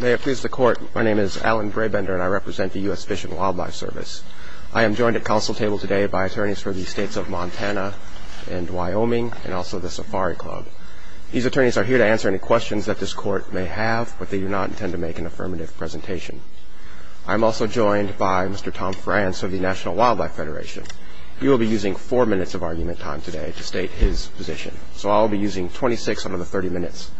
May it please the court, my name is Alan Brabender and I represent the U.S. Fish and Wildlife Service. I am joined at council table today by attorneys for the states of Montana and Wyoming and also the Safari Club. These attorneys are here to answer any questions that this court may have but they do not intend to make an affirmative presentation. I'm also joined by Mr. Tom France of the National Wildlife Federation. He will be using four minutes of argument time today to state his position. So I'll be using 26 out of the 30 minutes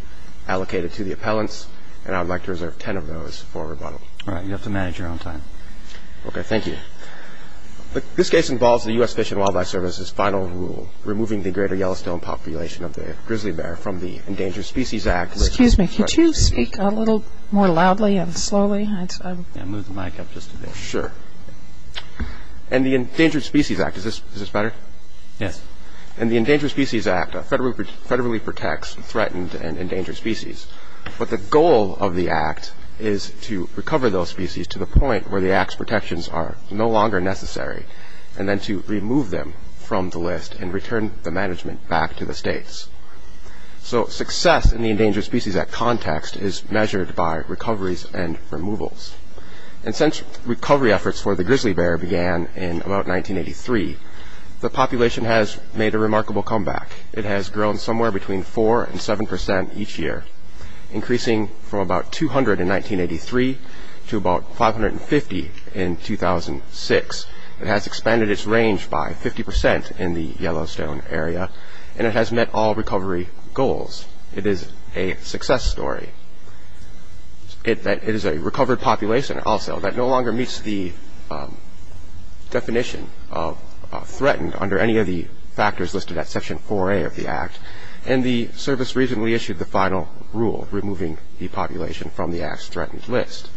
allocated to the appellants and I'd like to reserve 10 of those for rebuttal. All right, you have to manage your own time. Okay, thank you. This case involves the U.S. Fish and Wildlife Service's final rule, removing the greater Yellowstone population of the grizzly bear from the Endangered Species Act. Excuse me, could you speak a little more loudly and slowly? I moved the mic up just a bit. Sure. And the Endangered Species Act, is this better? Yes. And the Endangered Species Act federally protects threatened and endangered species but the goal of the act is to recover those species to the point where the act's protections are no longer necessary and then to remove them from the list and return the management back to the states. So success in the Endangered Species Act context is measured by recoveries and removals. And since recovery efforts for the grizzly bear began in about 1983, the population has made a remarkable comeback. It has grown somewhere between 4 and 7 percent each year, increasing from about 200 in 1983 to about 550 in 2006. It has expanded its range by 50 percent in the Yellowstone area and it has met all recovery goals. It is a success story. It is a recovered population also that no longer meets the definition of threatened under any of the factors listed at section 4a of the act. And the service recently issued the final rule, removing the population from the act's threatened list.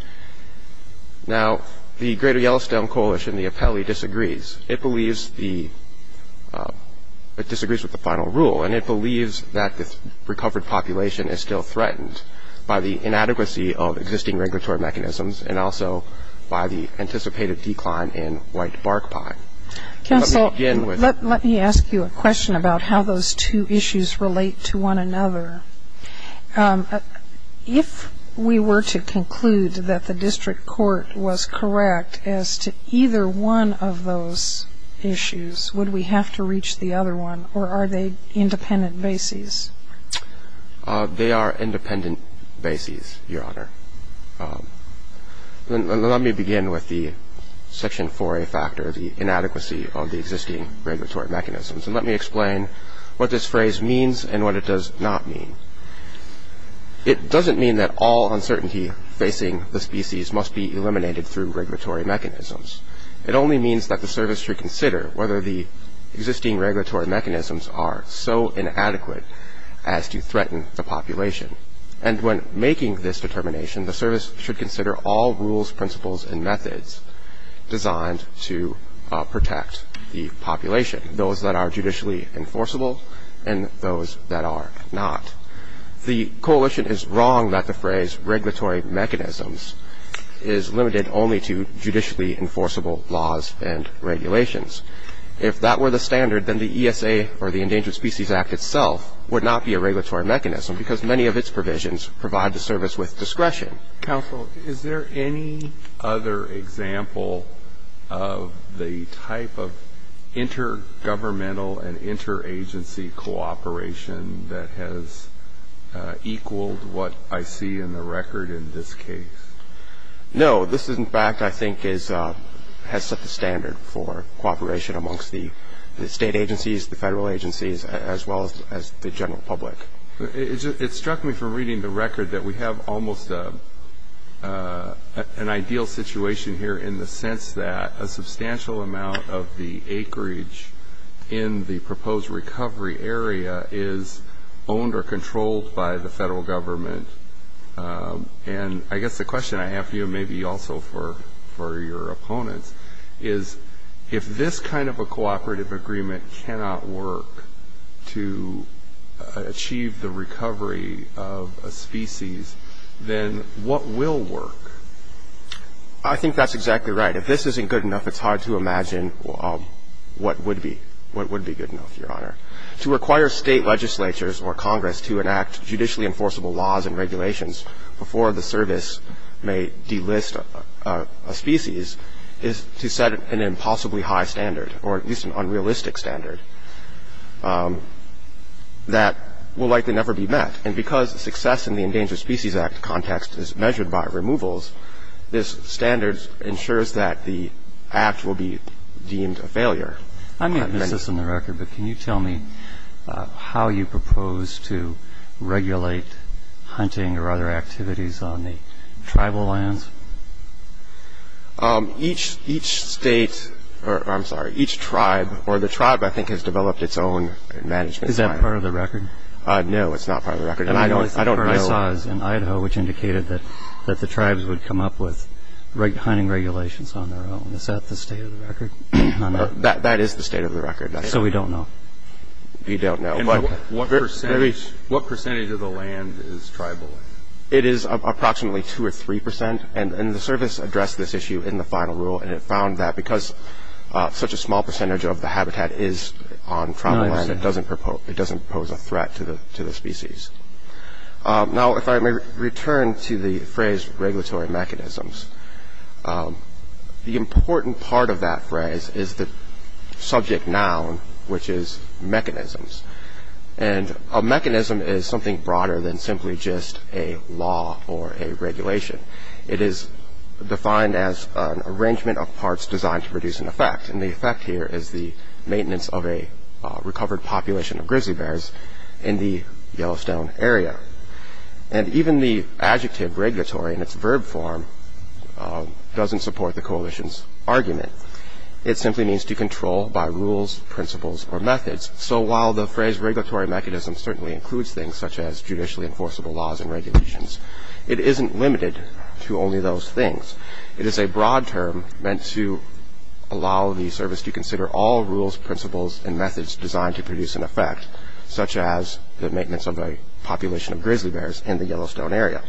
Now the Greater Yellowstone Coalition, the Apelli, disagrees. It believes the, it disagrees with the final rule and it believes that this recovered population is still threatened by the inadequacy of existing regulatory mechanisms and also by the anticipated decline in whitebark pie. Counsel, let me ask you a question about how those two issues relate to one another. If we were to conclude that the district court was correct as to either one of those issues, would we have to reach the other one or are they independent bases? They are independent bases, your honor. Let me begin with the section 4a factor, the inadequacy of the existing regulatory mechanisms, and let me explain what this phrase means and what it does not mean. It doesn't mean that all uncertainty facing the species must be eliminated through regulatory mechanisms. It only means that the service should consider whether the existing regulatory mechanisms are so inadequate as to threaten the population. And when making this determination, the service should consider all rules, principles, and methods designed to protect the population, those that are judicially enforceable and those that are not. The coalition is wrong that the phrase regulatory mechanisms is limited only to judicially enforceable laws and regulations. If that were the standard, then the ESA or the Endangered Species Act itself would not be a regulatory mechanism because many of its provisions provide the service with discretion. Counsel, is there any other example of the type of intergovernmental and interagency cooperation that has equaled what I see in the record in this case? No. This, in fact, I think has set the standard for cooperation amongst the state agencies, the federal agencies, as well as the general public. It struck me from reading the record that we have almost an ideal situation here in the sense that a substantial amount of the acreage in the proposed recovery area is owned or controlled by the federal government. And I guess the question I have for you, maybe also for your opponents, is if this kind of a cooperative agreement cannot work to achieve the recovery of a species, then what will work? I think that's exactly right. If this isn't good enough, it's hard to imagine what would be good enough, Your Honor. To require state legislatures or Congress to enact judicially enforceable laws and regulations before the service may delist a species is to set an impossibly high standard, or at least an unrealistic standard, that will likely never be met. And because success in the Endangered Species Act context is measured by removals, this standard ensures that the act will be deemed a failure. I may have missed this in the record, but can you tell me how you propose to regulate hunting or other activities on the tribal lands? Each state, or I'm sorry, each tribe, or the tribe I think has developed its own management plan. Is that part of the record? No, it's not part of the record. The only thing I saw is in Idaho, which indicated that the tribes would come up with hunting regulations on their own. Is that the state of the record? That is the state of the record. So we don't know? You don't know. And what percentage of the land is tribal land? It is approximately 2 or 3 percent. And the service addressed this issue in the final rule, and it found that because such a small percentage of the habitat is on tribal land, it doesn't pose a threat to the species. Now, if I may return to the phrase regulatory mechanisms, the important part of that phrase is the subject noun, which is mechanisms. And a mechanism is something broader than simply just a law or a regulation. It is defined as an arrangement of parts designed to produce an effect, and the effect here is the maintenance of a recovered population of grizzly bears in the Yellowstone area. And even the adjective regulatory in its verb form doesn't support the coalition's argument. It simply means to control by rules, principles, or methods. So while the phrase regulatory mechanism certainly includes things such as judicially enforceable laws and regulations, it isn't limited to only those things. It is a broad term meant to allow the service to consider all rules, principles, and methods designed to produce an effect, such as the maintenance of a population of grizzly bears in the Yellowstone area.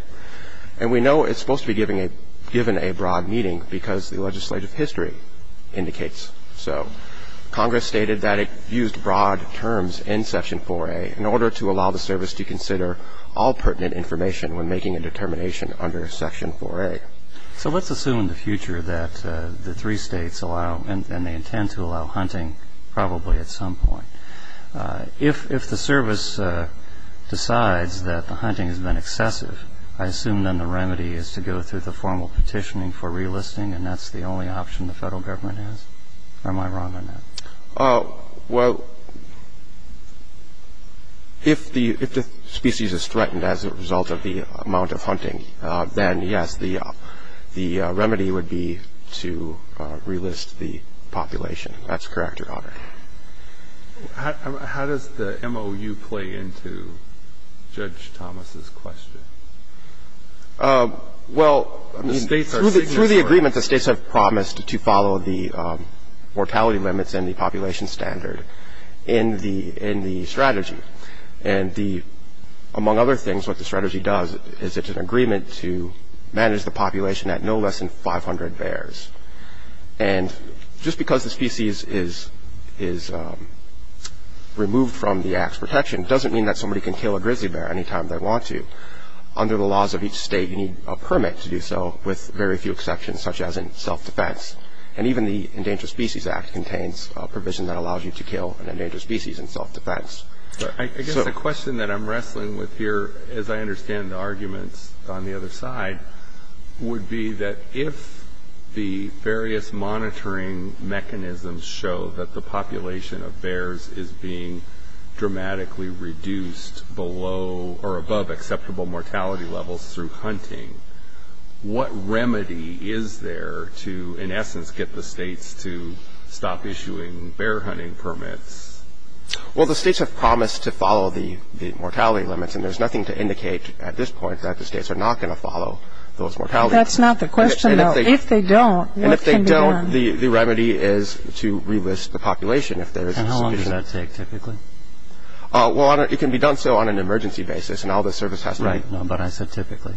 And we know it's supposed to be given a broad meaning because the legislative history indicates so. Congress stated that it used broad terms in Section 4A in order to allow the service to consider all pertinent information when making a determination under Section 4A. So let's assume in the future that the three states allow, and they intend to excessive. I assume then the remedy is to go through the formal petitioning for relisting, and that's the only option the federal government has? Or am I wrong on that? Well, if the species is threatened as a result of the amount of hunting, then yes, the remedy would be to relist the population. That's correct, Your Honor. How does the MOU play into Judge Thomas's question? Well, through the agreement, the states have promised to follow the mortality limits and the population standard in the strategy. And among other things, what the strategy does is it's an agreement to manage the population at no less than 500 bears. And just because the species is removed from the Act's protection doesn't mean that somebody can kill a grizzly bear any time they want to. Under the laws of each state, you need a permit to do so, with very few exceptions, such as in self-defense. And even the Endangered Species Act contains a provision that allows you to kill an endangered species in self-defense. I guess the question that I'm wrestling with here, as I understand the arguments on the other side, would be that if the various monitoring mechanisms show that the population of bears is being dramatically reduced below or above acceptable mortality levels through hunting, what remedy is there to, in essence, get the states to stop issuing bear hunting permits? Well, the states have promised to follow the mortality limits, and there's nothing to indicate at this point that the states are not going to follow those mortality limits. That's not the question, though. If they don't, what can be done? And if they don't, the remedy is to re-list the population, if there is a suspicion. And how long does that take, typically? Well, it can be done so on an emergency basis, and all the service has to be... Right. No, but I said typically.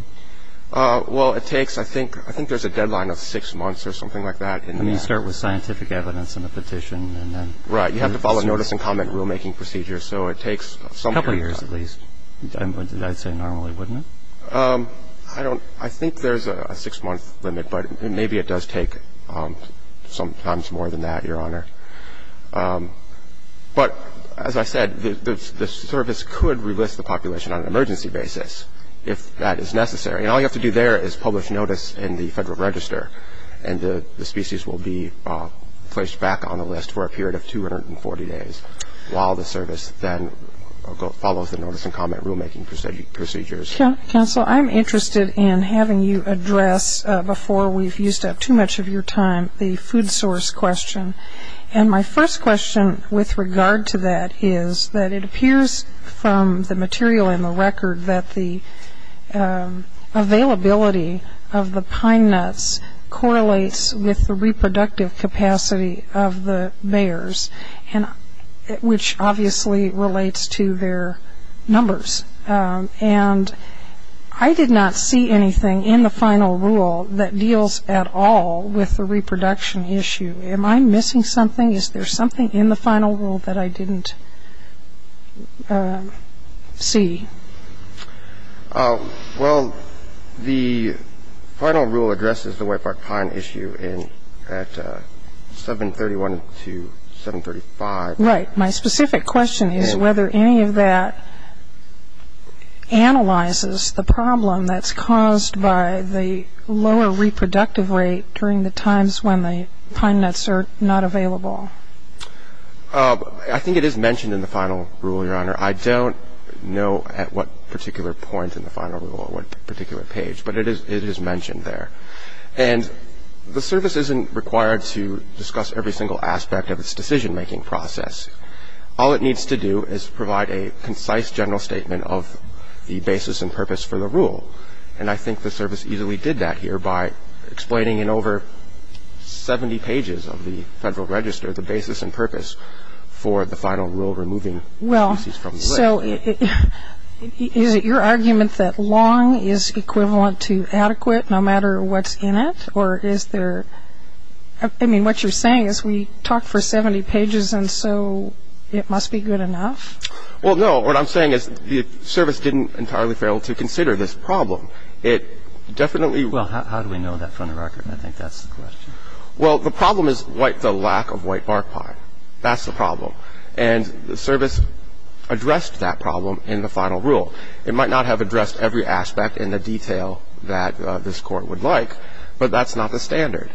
Well, it takes, I think there's a deadline of six months or something like that. And you start with scientific evidence and a petition, and then... Right. You have to follow a notice and comment rulemaking procedure, so it takes some... I'd say normally, wouldn't it? I think there's a six-month limit, but maybe it does take sometimes more than that, Your Honor. But, as I said, the service could re-list the population on an emergency basis, if that is necessary. And all you have to do there is publish notice in the Federal Register, and the species will be placed back on the list for a period of 240 days, while the service then follows the notice and comment rulemaking procedures. Counsel, I'm interested in having you address, before we've used up too much of your time, the food source question. And my first question with regard to that is that it appears from the material in the record that the availability of the pine nuts correlates with the reproductive capacity of the bears, which obviously relates to their numbers. And I did not see anything in the final rule that deals at all with the reproduction issue. Am I missing something? Is there something in the final rule that I didn't see? Well, the final rule addresses the Whitebark pine issue at 731 to 735. Right. My specific question is whether any of that analyzes the problem that's caused by the lower reproductive rate during the times when the pine nuts are not available. I think it is mentioned in the final rule, Your Honor. I don't know at what particular point in the final rule or what particular page, but it is mentioned there. And the service isn't required to discuss every single aspect of its decision-making process. All it needs to do is provide a concise general statement of the basis and purpose for the rule. And I think the service easily did that here by explaining in over 70 pages of the Federal Register the basis and purpose for the final rule removing species from the lake. Well, so is it your argument that long is equivalent to adequate no matter what's in it? Or is there, I mean, what you're saying is we talked for 70 pages and so it must be good enough? Well, no. What I'm saying is the service didn't entirely fail to consider this problem. It definitely... Well, how do we know that from the record? I think that's the question. Well, the problem is the lack of whitebark pine. That's the problem. And the service addressed that problem in the final rule. It might not have addressed every aspect in the detail that this Court would like, but that's not the standard.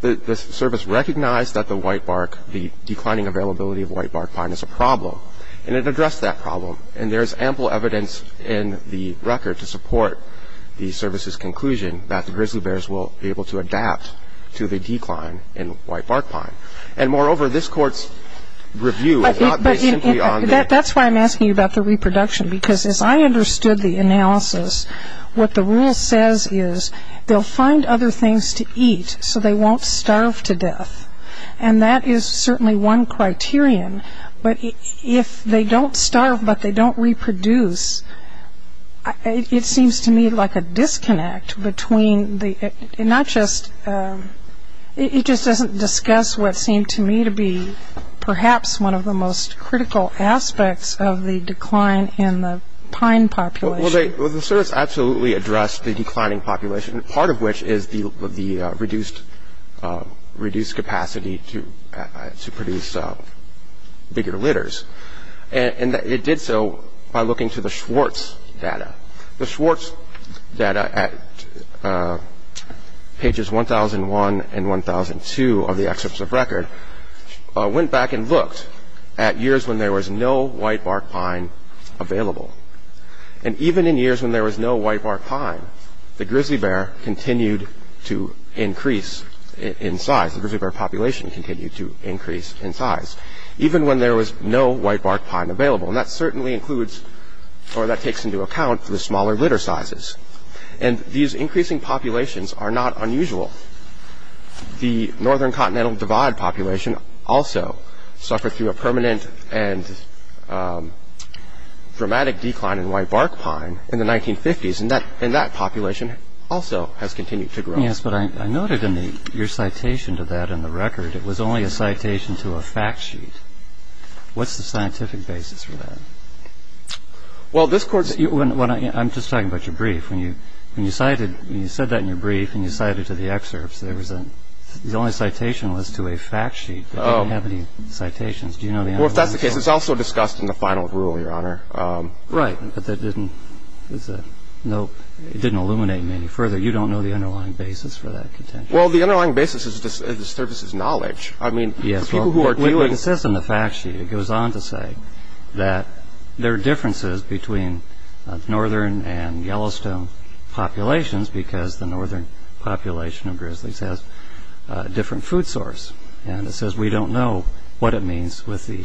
The service recognized that the whitebark, the declining availability of whitebark pine is a problem, and it addressed that problem. And there's ample evidence in the record to support the service's conclusion that the grizzly bears will be able to adapt to the decline in whitebark pine. And moreover, this Court's review is not based simply on... That's why I'm asking you about the reproduction, because as I understood the analysis, what the rule says is they'll find other things to eat so they won't starve to death. And that is certainly one criterion. But if they don't starve, but they don't reproduce, it seems to me like a disconnect between the... Not just... It just doesn't discuss what seemed to me to be perhaps one of the most critical aspects of the decline in the pine population. Well, the service absolutely addressed the declining population, part of which is the reduced capacity to produce bigger litters. And it did so by looking to the Schwartz data. The Schwartz data at pages 1001 and 1002 of the excerpts of record went back and looked at years when there was no whitebark pine available. And even in years when there was no whitebark pine, the grizzly bear continued to increase in size. The grizzly bear population continued to increase in size, even when there was no whitebark pine available. And that certainly includes, or that takes into account, the smaller litter sizes. And these increasing populations are not unusual. The Northern Continental Divide population also suffered through a permanent and dramatic decline in whitebark pine in the 1950s. And that population also has continued to grow. Yes, but I noted in your citation to that in the record, it was only a citation to a fact sheet. What's the scientific basis for that? Well, this Court's... I'm just talking about your brief. When you cited... When you said that in your brief and you cited to the excerpts, there was a... The only citation was to a fact sheet. Do you know the underlying... Well, if that's the case, it's also discussed in the final rule, Your Honor. Right, but that didn't... It didn't illuminate me any further. You don't know the underlying basis for that contention. Well, the underlying basis is the surface's knowledge. I mean, the people who are dealing... It says in the fact sheet, it goes on to say that there are differences between northern and Yellowstone populations because the northern population of grizzlies has a different food source. And it says we don't know what it means with the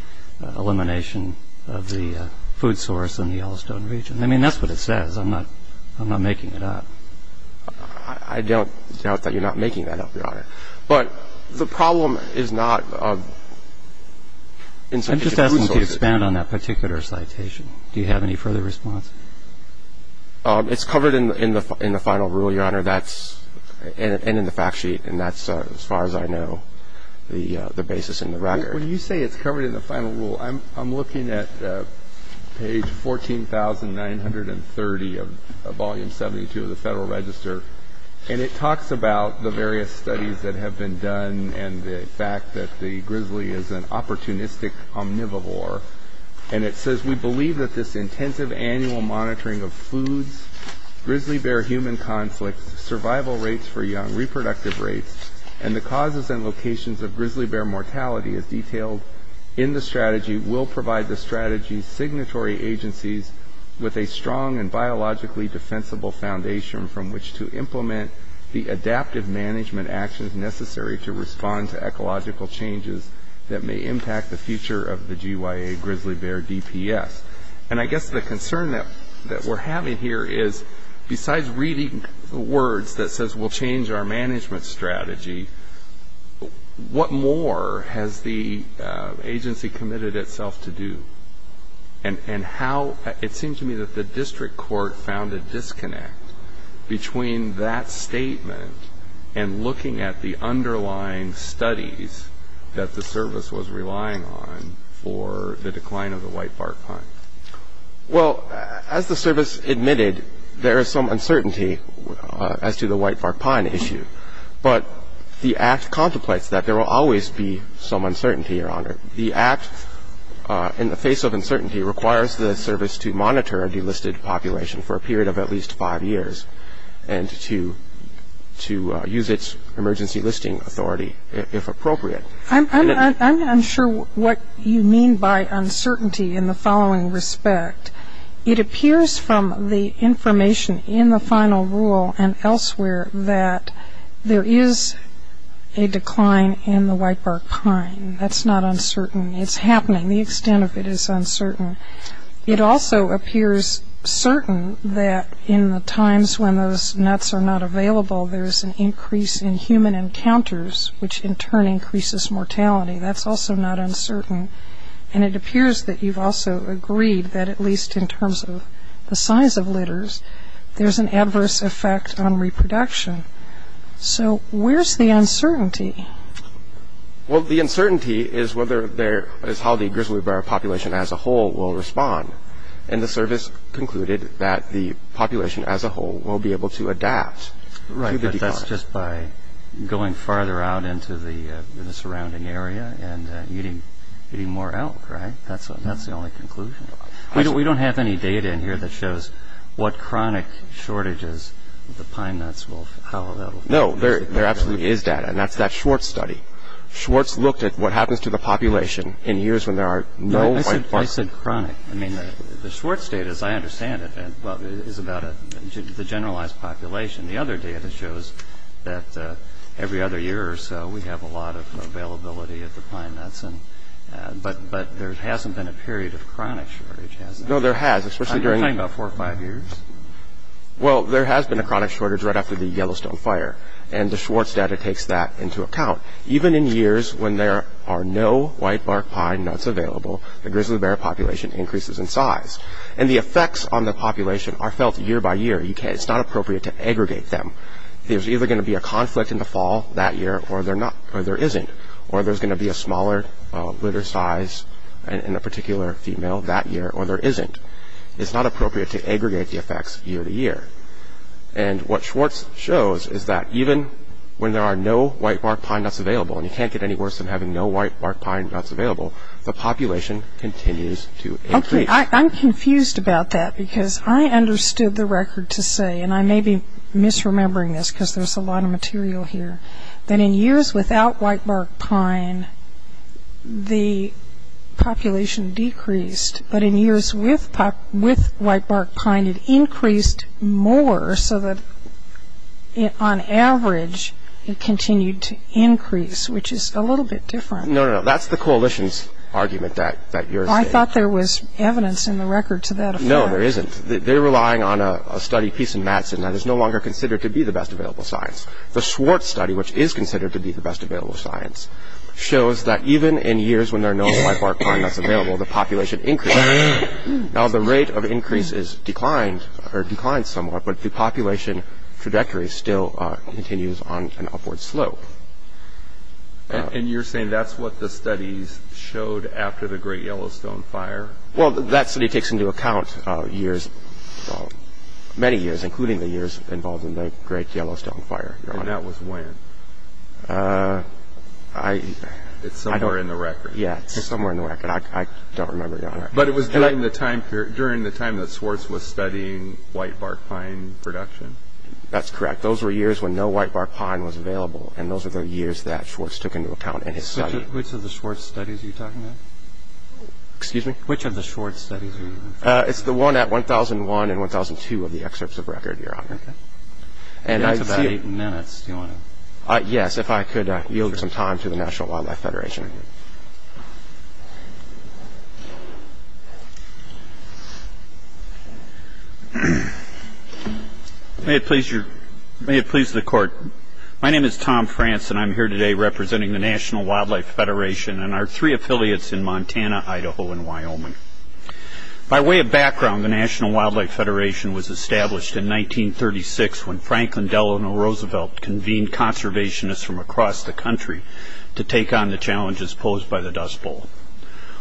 elimination of the food source in the Yellowstone region. I mean, that's what it says. I'm not making it up. I don't doubt that you're not making that up, Your Honor. But the problem is not... I'm just asking to expand on that particular citation. Do you have any further response? It's covered in the final rule, Your Honor. That's... When you say it's covered in the final rule, I'm looking at page 14,930 of volume 72 of the Federal Register. And it talks about the various studies that have been done and the fact that the grizzly is an opportunistic omnivore. And it says, we believe that this intensive annual monitoring of foods, grizzly bear human conflict, survival rates for young, reproductive rates, and the in the strategy will provide the strategy's signatory agencies with a strong and biologically defensible foundation from which to implement the adaptive management actions necessary to respond to ecological changes that may impact the future of the GYA grizzly bear DPS. And I guess the concern that we're having here is besides reading the words that says we'll change our management strategy, what more has the agency committed itself to do? And how... It seems to me that the district court found a disconnect between that statement and looking at the underlying studies that the service was relying on for the decline of the whitebark pine. Well, as the service admitted, there is some uncertainty as to the whitebark pine issue. But the act contemplates that there will always be some uncertainty, Your Honor. The act in the face of uncertainty requires the service to monitor the listed population for a period of at least five years and to use its emergency listing authority if appropriate. I'm unsure what you mean by the information in the final rule and elsewhere that there is a decline in the whitebark pine. That's not uncertain. It's happening. The extent of it is uncertain. It also appears certain that in the times when those nuts are not available, there's an increase in human encounters, which in turn increases mortality. That's also not uncertain. And it appears that you've also agreed that at least in terms of the size of litters, there's an adverse effect on reproduction. So where's the uncertainty? Well, the uncertainty is whether there... is how the grizzly bear population as a whole will respond. And the service concluded that the population as a whole will be able to adapt to the decline. Right, but that's just by going farther out into the We don't have any data in here that shows what chronic shortages the pine nuts will have. No, there absolutely is data. And that's that Schwartz study. Schwartz looked at what happens to the population in years when there are no whitebarks. I said chronic. I mean, the Schwartz data, as I understand it, is about the generalized population. The other data shows that every other year or so, we have a lot of availability of the pine nuts. But there hasn't been a period of chronic shortage. No, there has, especially during the four or five years. Well, there has been a chronic shortage right after the Yellowstone fire. And the Schwartz data takes that into account. Even in years when there are no whitebark pine nuts available, the grizzly bear population increases in size. And the effects on the population are felt year by year. It's not appropriate to aggregate them. There's either going to be a conflict in the fall that year, or there isn't. Or there's going to be a smaller litter size in a particular female that year, or there isn't. It's not appropriate to aggregate the effects year to year. And what Schwartz shows is that even when there are no whitebark pine nuts available, and you can't get any worse than having no whitebark pine nuts available, the population continues to increase. Okay, I'm confused about that because I understood the record to say, and I may be misremembering this because there's a lot of material here, that in years without whitebark pine, the population decreased. But in years with whitebark pine, it increased more so that on average, it continued to increase, which is a little bit different. No, no, no. That's the coalition's argument that you're saying. I thought there was evidence in the record to that effect. No, there isn't. They're relying on a study, Peace and Madsen, that is no longer considered to be the best available science. The Schwartz study, which is considered to be the best available science, shows that even in years when there are no whitebark pine nuts available, the population increases. Now, the rate of increase has declined somewhat, but the population trajectory still continues on an upward slope. And you're saying that's what the studies showed after the Great Yellowstone Fire? Well, that study takes into account many years, including the years involved in the Great Yellowstone Fire, Your Honor. And that was when? It's somewhere in the record. Yeah, it's somewhere in the record. I don't remember, Your Honor. But it was during the time that Schwartz was studying whitebark pine production? That's correct. Those were years when no whitebark pine was available, and those were the years that Schwartz took into account in his study. Which of the Schwartz studies are you talking about? Excuse me? Which of the Schwartz studies are you talking about? It's the one at 1001 and 1002 of the excerpts of record, Your Honor. Okay. That's about eight minutes. Do you want to... Yes, if I could yield some time to the National Wildlife Federation. May it please the Court. My name is Tom France, and I'm here today representing the National Wildlife Federation of Wyoming. By way of background, the National Wildlife Federation was established in 1936 when Franklin Delano Roosevelt convened conservationists from across the country to take on the challenges posed by the Dust Bowl.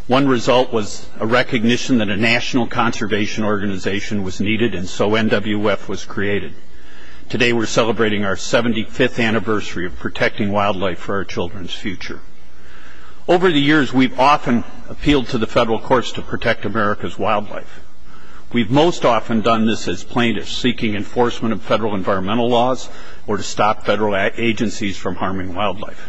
One result was a recognition that a national conservation organization was needed, and so NWF was created. Today, we're celebrating our 75th anniversary of protecting wildlife for our children's future. Over the years, we've often appealed to the federal courts to protect America's wildlife. We've most often done this as plaintiffs, seeking enforcement of federal environmental laws or to stop federal agencies from harming wildlife.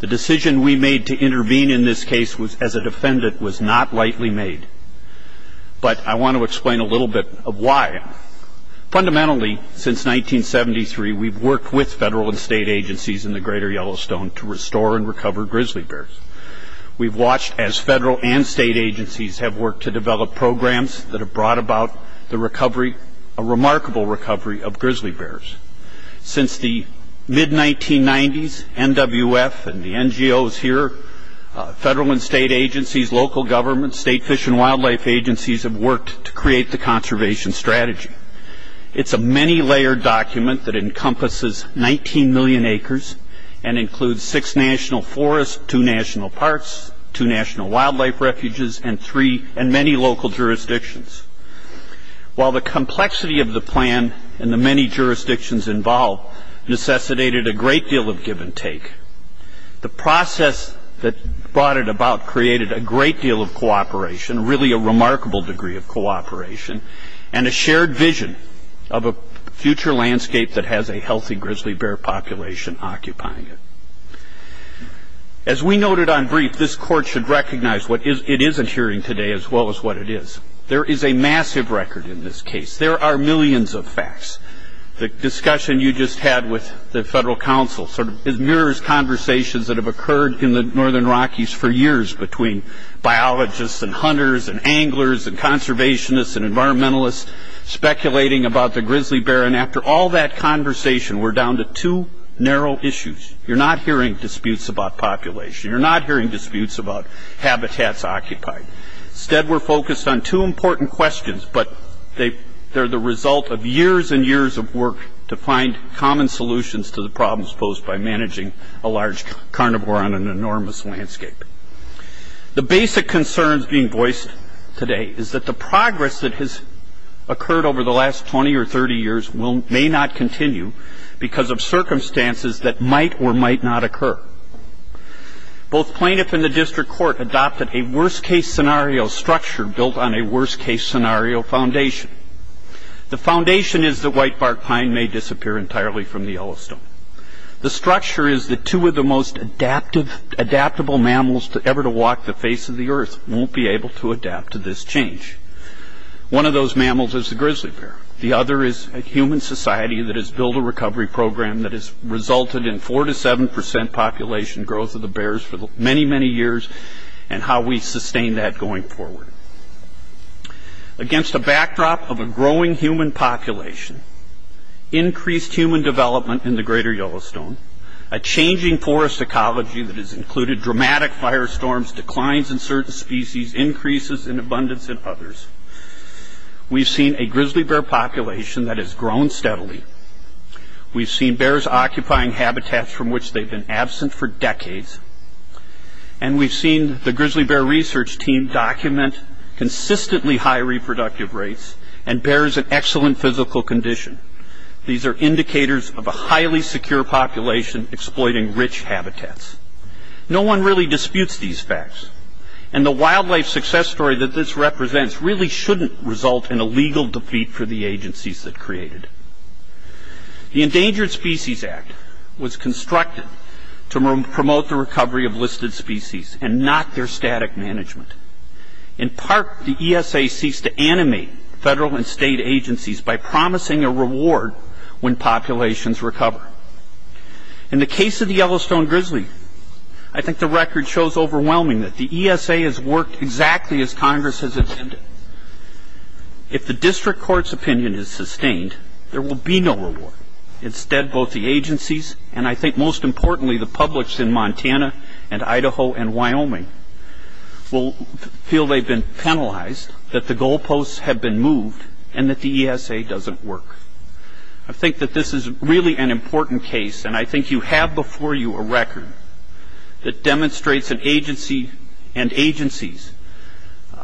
The decision we made to intervene in this case as a defendant was not lightly made, but I want to explain a little bit of why. Fundamentally, since 1973, we've worked with federal and state agencies in the greater Yellowstone to restore and recover grizzly bears. We've watched as federal and state agencies have worked to develop programs that have brought about a remarkable recovery of grizzly bears. Since the mid-1990s, NWF and the NGOs here, federal and state agencies, local governments, state fish and wildlife agencies have worked to create the conservation strategy. It's a many-layered document that two national parks, two national wildlife refuges, and three and many local jurisdictions. While the complexity of the plan and the many jurisdictions involved necessitated a great deal of give and take, the process that brought it about created a great deal of cooperation, really a remarkable degree of cooperation, and a shared vision of a future landscape that has a healthy grizzly bear population occupying it. As we noted on brief, this court should recognize what it is adhering today as well as what it is. There is a massive record in this case. There are millions of facts. The discussion you just had with the federal counsel mirrors conversations that have occurred in the northern Rockies for years between biologists and hunters and anglers and conservationists and environmentalists speculating about the grizzly bear population. We're down to two narrow issues. You're not hearing disputes about population. You're not hearing disputes about habitats occupied. Instead, we're focused on two important questions, but they're the result of years and years of work to find common solutions to the problems posed by managing a large carnivore on an enormous landscape. The basic concerns being voiced today is that the progress that has continued because of circumstances that might or might not occur. Both plaintiff and the district court adopted a worst-case scenario structure built on a worst-case scenario foundation. The foundation is that whitebark pine may disappear entirely from the Yellowstone. The structure is that two of the most adaptable mammals ever to walk the face of the earth won't be able to adapt to this change. One of those mammals is the grizzly bear. The other is a human society that has built a recovery program that has resulted in four to seven percent population growth of the bears for many, many years and how we sustain that going forward. Against a backdrop of a growing human population, increased human development in the greater Yellowstone, a changing forest ecology that has included dramatic firestorms, declines in certain species, increases in abundance in others, we've seen a grizzly bear population that has grown steadily. We've seen bears occupying habitats from which they've been absent for decades and we've seen the grizzly bear research team document consistently high reproductive rates and bears an excellent physical condition. These are indicators of a highly secure population exploiting rich habitats. No one really disputes these facts and the wildlife success story that this represents really shouldn't result in a legal defeat for the agencies that created. The Endangered Species Act was constructed to promote the recovery of listed species and not their static management. In part, the ESA seeks to animate federal and state agencies by promising a reward when populations recover. In the case of the Yellowstone grizzly, I think the record shows overwhelming that the ESA has worked exactly as Congress has intended. If the district court's opinion is sustained, there will be no reward. Instead, both the agencies and I think most importantly the publics in Montana and Idaho and Wyoming will feel they've been penalized, that the goalposts have been moved, and that the ESA doesn't work. I think that this is really an record that demonstrates an agency and agencies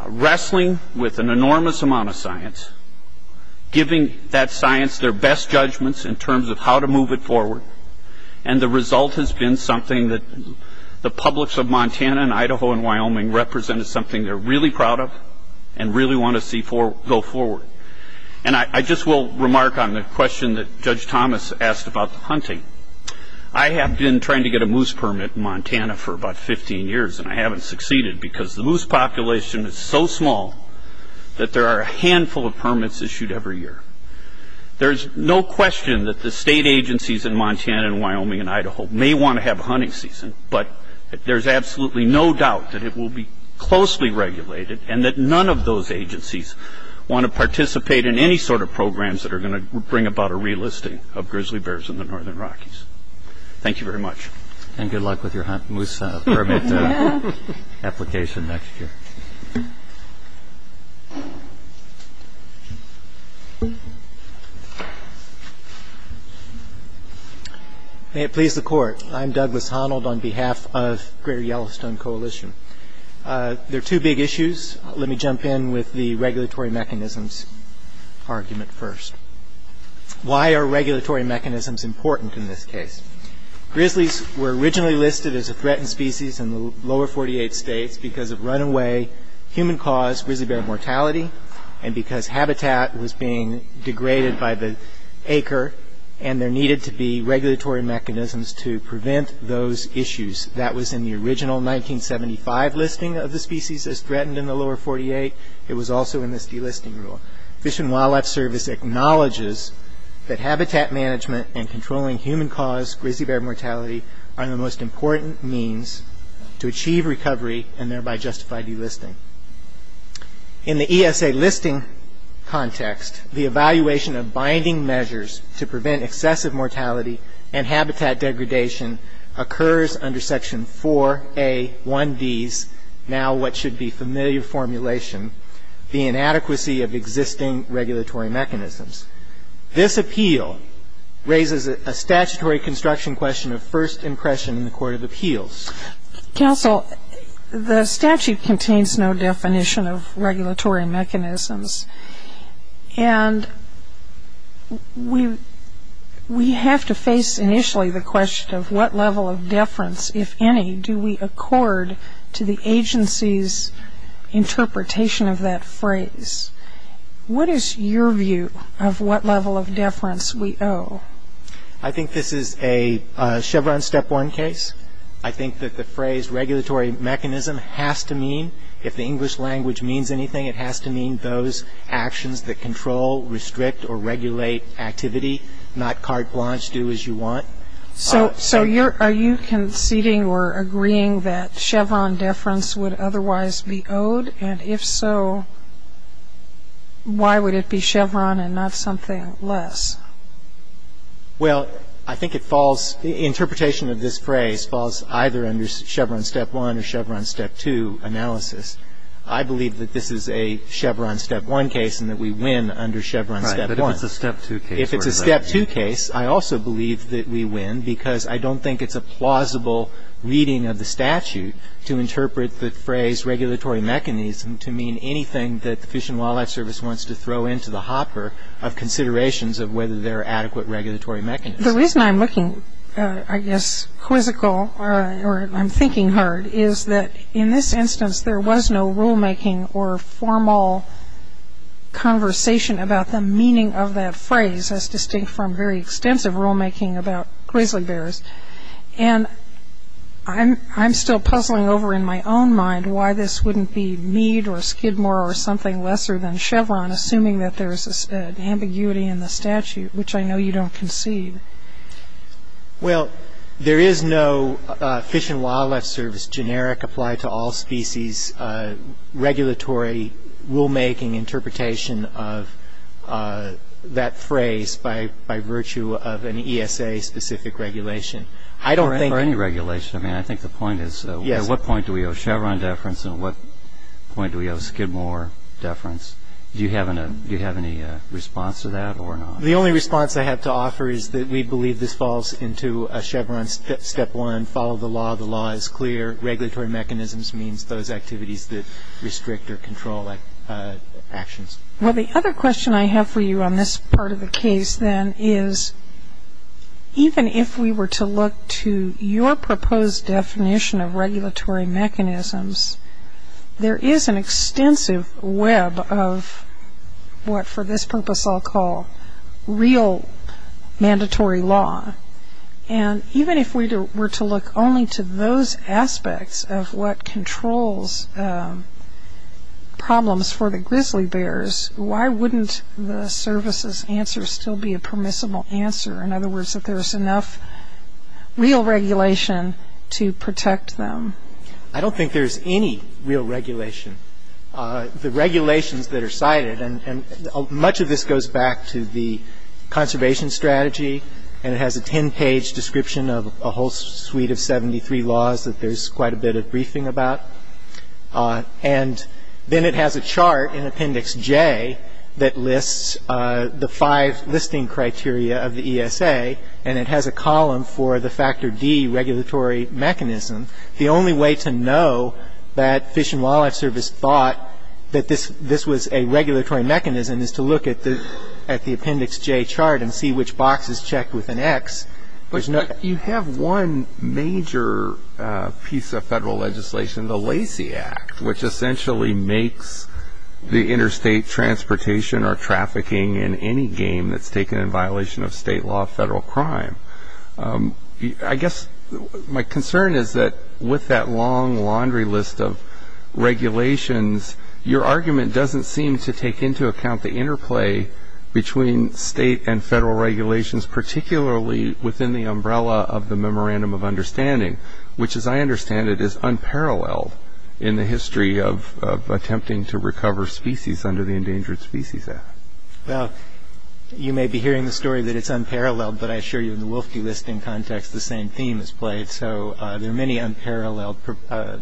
wrestling with an enormous amount of science, giving that science their best judgments in terms of how to move it forward, and the result has been something that the publics of Montana and Idaho and Wyoming represented something they're really proud of and really want to see go forward. I just will remark on the question that Judge Thomas asked about the hunting. I have been trying to get a moose permit in Montana for about 15 years and I haven't succeeded because the moose population is so small that there are a handful of permits issued every year. There's no question that the state agencies in Montana and Wyoming and Idaho may want to have a hunting season, but there's absolutely no doubt that it will be closely regulated and that none of those agencies want to participate in any sort of relisting of grizzly bears in the northern Rockies. Thank you very much. And good luck with your moose permit application next year. May it please the court, I'm Douglas Honnold on behalf of the Greater Yellowstone Coalition. There are two big issues. Let me jump in with the regulatory mechanisms argument first. Why are regulatory mechanisms important in this case? Grizzlies were originally listed as a threatened species in the lower 48 states because of runaway human-caused grizzly bear mortality and because habitat was being degraded by the acre and there needed to be regulatory mechanisms to prevent those issues. That was in the original 1975 listing of the species as threatened in the that habitat management and controlling human-caused grizzly bear mortality are the most important means to achieve recovery and thereby justify delisting. In the ESA listing context, the evaluation of binding measures to prevent excessive mortality and habitat degradation occurs under section 4A1D's now what should be familiar formulation, the inadequacy of appeal raises a statutory construction question of first impression in the court of appeals. Counsel, the statute contains no definition of regulatory mechanisms and we have to face initially the question of what level of deference, if any, do we accord to the deference we owe? I think this is a Chevron step one case. I think that the phrase regulatory mechanism has to mean, if the English language means anything, it has to mean those actions that control, restrict, or regulate activity, not carte blanche, do as you want. So are you conceding or agreeing that Chevron deference would otherwise be owed and if so, why would it be Chevron and not something less? Well, I think it falls, the interpretation of this phrase falls either under Chevron step one or Chevron step two analysis. I believe that this is a Chevron step one case and that we win under Chevron step one. Right, but if it's a step two case. If it's a step two case, I also believe that we win because I don't think it's a plausible reading of the statute to interpret the phrase regulatory mechanism to mean anything that the Fish and Wildlife Service wants to throw into the hopper of considerations of whether there are adequate regulatory mechanisms. The reason I'm looking, I guess, quizzical or I'm thinking hard is that in this instance there was no rulemaking or formal conversation about the meaning of that phrase as distinct from very extensive rulemaking about grizzly bears. And I'm still puzzling over in my own mind why this is the case. I'm not saying that there's a ambiguity in the statute, which I know you don't concede. Well, there is no Fish and Wildlife Service generic apply to all species regulatory rulemaking interpretation of that phrase by virtue of an ESA specific regulation. I don't think For any regulation, I mean, I think the point is, at what point do we owe Chevron deference and at what point do we owe Skidmore deference? Do you have any response to that or not? The only response I have to offer is that we believe this falls into a Chevron step one, follow the law, the law is clear, regulatory mechanisms means those activities that restrict or control actions. Well, the other question I have for you on this part of the case then is, even if we were to look to your proposed definition of regulatory mechanisms, there is an extensive web of what for this purpose I'll call real mandatory law. And even if we were to look only to those aspects of what controls problems for the grizzly bears, why wouldn't the services answer still be a real regulation to protect them? I don't think there's any real regulation. The regulations that are cited, and much of this goes back to the conservation strategy, and it has a 10-page description of a whole suite of 73 laws that there's quite a bit of briefing about. And then it has a chart in Appendix J that lists the five listing criteria of the ESA, and it has a column for the Factor D regulatory mechanism. The only way to know that Fish and Wildlife Service thought that this was a regulatory mechanism is to look at the Appendix J chart and see which box is checked with an X. You have one major piece of federal legislation, the Lacey Act, which essentially makes the game that's taken in violation of state law a federal crime. I guess my concern is that with that long laundry list of regulations, your argument doesn't seem to take into account the interplay between state and federal regulations, particularly within the umbrella of the Memorandum of Understanding, which as I understand it is unparalleled in the history of attempting to recover species under the Endangered Species Act. Well, you may be hearing the story that it's unparalleled, but I assure you in the wolf delisting context, the same theme is played. So there are many unparalleled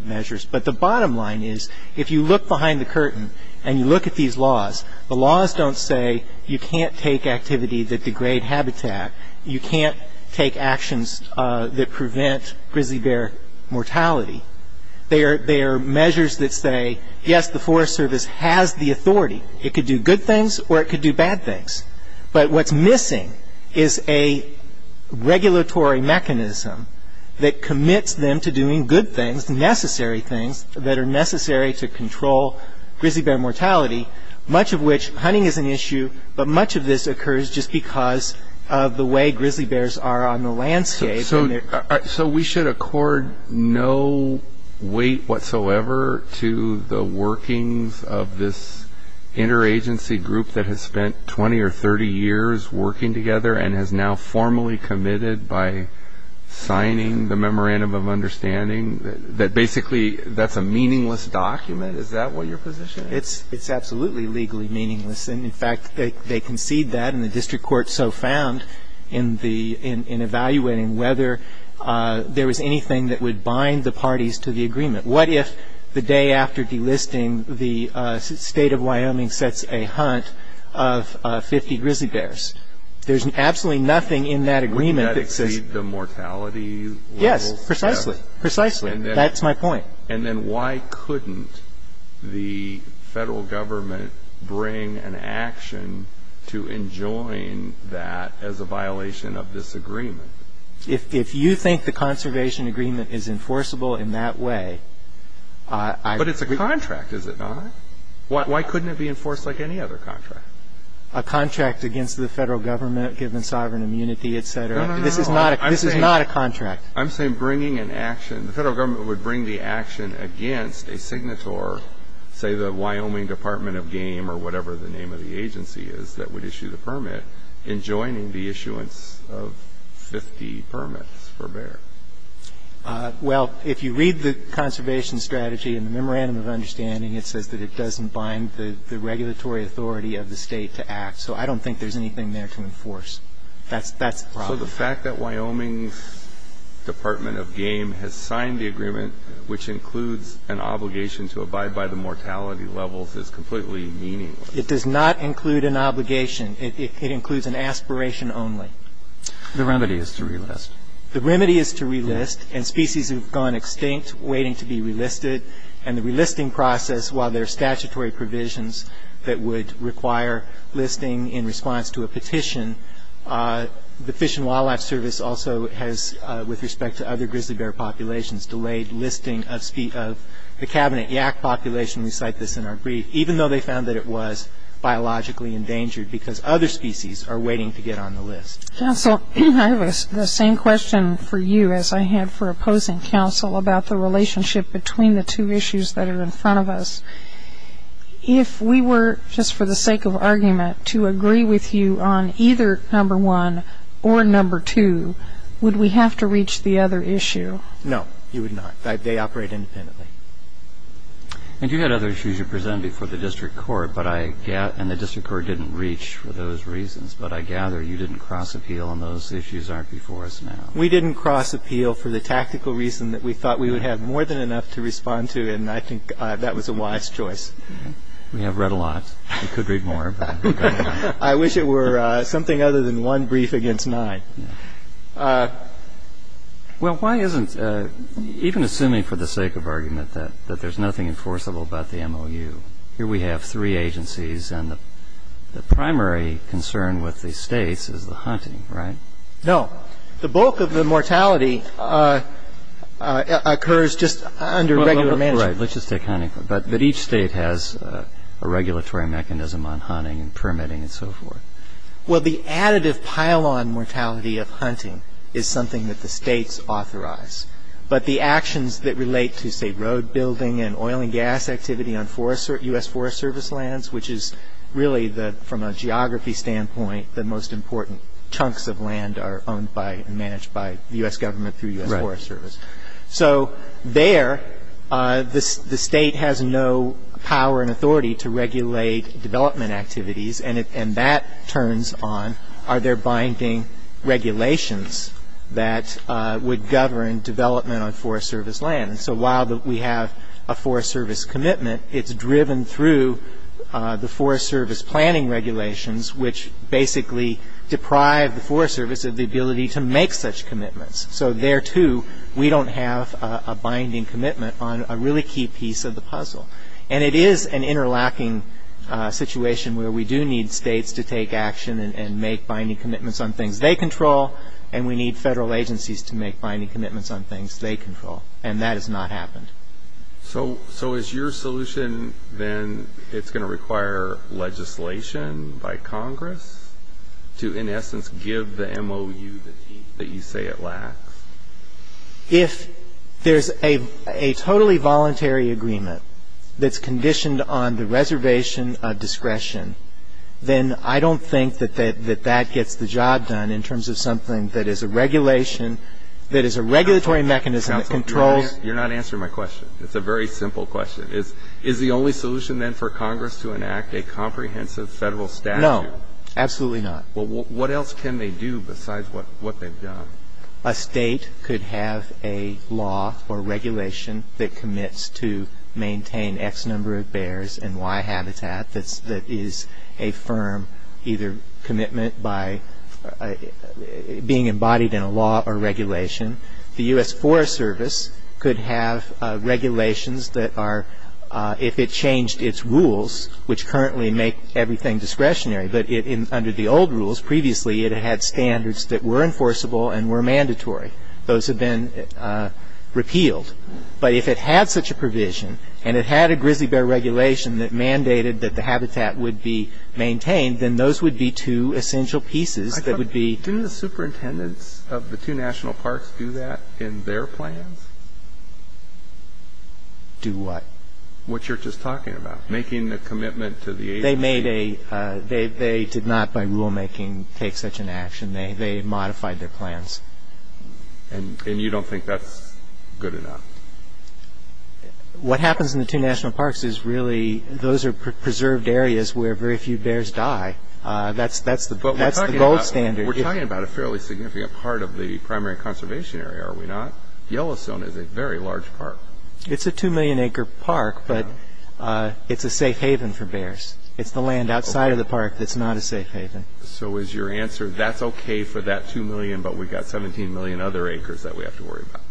measures. But the bottom line is, if you look behind the curtain and you look at these laws, the laws don't say you can't take activity that degrade habitat, you can't take actions that prevent grizzly bear mortality. They are measures that say, yes, the Forest Service has the But what's missing is a regulatory mechanism that commits them to doing good things, necessary things that are necessary to control grizzly bear mortality, much of which hunting is an issue, but much of this occurs just because of the way grizzly bears are on the landscape. So we should accord no weight whatsoever to the workings of this interagency group that has spent 20 or 30 years working together and has now formally committed by signing the Memorandum of Understanding, that basically that's a meaningless document. Is that what your position is? It's absolutely legally meaningless. And in fact, they concede that and the district court so found in evaluating whether there was anything that would bind the parties to the agreement. What if the day after delisting, the state of Wyoming sets a hunt of 50 grizzly bears? There's absolutely nothing in that agreement that says the mortality. Yes, precisely. Precisely. And that's my point. And then why couldn't the federal government bring an action to enjoin that as a violation of this agreement? If you think the conservation agreement is enforceable in that way. But it's a contract, is it not? Why couldn't it be enforced like any other contract? A contract against the federal government given sovereign immunity, etc. This is not a contract. I'm saying bringing an action. The federal government would bring the action against a signatory, say the Wyoming Department of Game or whatever the name of the agency is that would issue the permit in joining the issuance of 50 permits for bear. Well, if you read the conservation strategy in the memorandum of understanding, it says that it doesn't bind the regulatory authority of the state to act. So I don't think there's anything there to enforce. That's the problem. So the fact that Wyoming's Department of Game has signed the agreement, which includes an obligation to abide by the mortality levels, is completely meaningless. It does not include an obligation. It includes an aspiration only. The remedy is to relist. The remedy is to relist, and species have gone extinct waiting to be relisted. And the relisting process, while there are statutory provisions that would require listing in response to a petition, the Fish and Wildlife Service also has, with respect to other grizzly bear populations, delayed listing of the cabinet yak population, we cite this in our brief, even though they found that it was biologically Council, I have the same question for you as I had for opposing council about the relationship between the two issues that are in front of us. If we were, just for the sake of argument, to agree with you on either number one or number two, would we have to reach the other issue? No, you would not. They operate independently. And you had other issues you presented before the district court, and the district court didn't reach for those reasons. But I gather you didn't cross appeal, and those issues aren't before us now. We didn't cross appeal for the tactical reason that we thought we would have more than enough to respond to, and I think that was a wise choice. We have read a lot. We could read more. I wish it were something other than one brief against nine. Well, why isn't, even assuming for the sake of argument, that there's nothing enforceable about the MOU? Here we have three agencies, and the primary concern with the states is the hunting, right? No. The bulk of the mortality occurs just under regular management. Right. Let's just take hunting. But each state has a regulatory mechanism on hunting and permitting and so forth. Well, the additive pile-on mortality of hunting is something that the states authorize. But the actions that relate to, say, road building and oil and gas activity on U.S. Forest Service lands, which is really, from a geography standpoint, the most important chunks of land are owned by and managed by the U.S. government through U.S. Forest Service. So there, the state has no power and authority to regulate development activities, and that turns on, are there binding regulations that would govern development on Forest Service land? And so while we have a Forest Service commitment, it's driven through the Forest Service planning regulations, which basically deprive the Forest Service of the ability to make such commitments. So there, too, we don't have a binding commitment on a really key piece of the puzzle. And it is an interlocking situation where we do need states to take action and make binding commitments on things they control, and we need federal agencies to make binding commitments on things they control. And that has not happened. So is your solution, then, it's going to require legislation by Congress to, in essence, if there's a totally voluntary agreement that's conditioned on the reservation of discretion, then I don't think that that gets the job done in terms of something that is a regulation, that is a regulatory mechanism that controls. Counsel, you're not answering my question. It's a very simple question. Is the only solution, then, for Congress to enact a comprehensive federal statute? No, absolutely not. Well, what else can they do besides what they've done? A state could have a law or regulation that commits to maintain X number of bears and Y habitat that is a firm either commitment by being embodied in a law or regulation. The U.S. Forest Service could have regulations that are, if it changed its rules, which currently make everything discretionary, but under the old rules, previously, it had standards that were enforceable and were mandatory. Those have been repealed. But if it had such a provision and it had a grizzly bear regulation that mandated that the habitat would be maintained, then those would be two essential pieces that would be Didn't the superintendents of the two national parks do that in their plans? Do what? What you're just talking about, making a commitment to the agency. They did not, by rulemaking, take such an action. They modified their plans. And you don't think that's good enough? What happens in the two national parks is really, those are preserved areas where very few bears die. That's the gold standard. But we're talking about a fairly significant part of the primary conservation area, are we not? Yellowstone is a very large park. It's a two million acre park, but it's a safe haven for bears. It's the land outside of the park that's not a safe haven. So is your answer, that's okay for that two million, but we've got 17 million other acres that we have to worry about?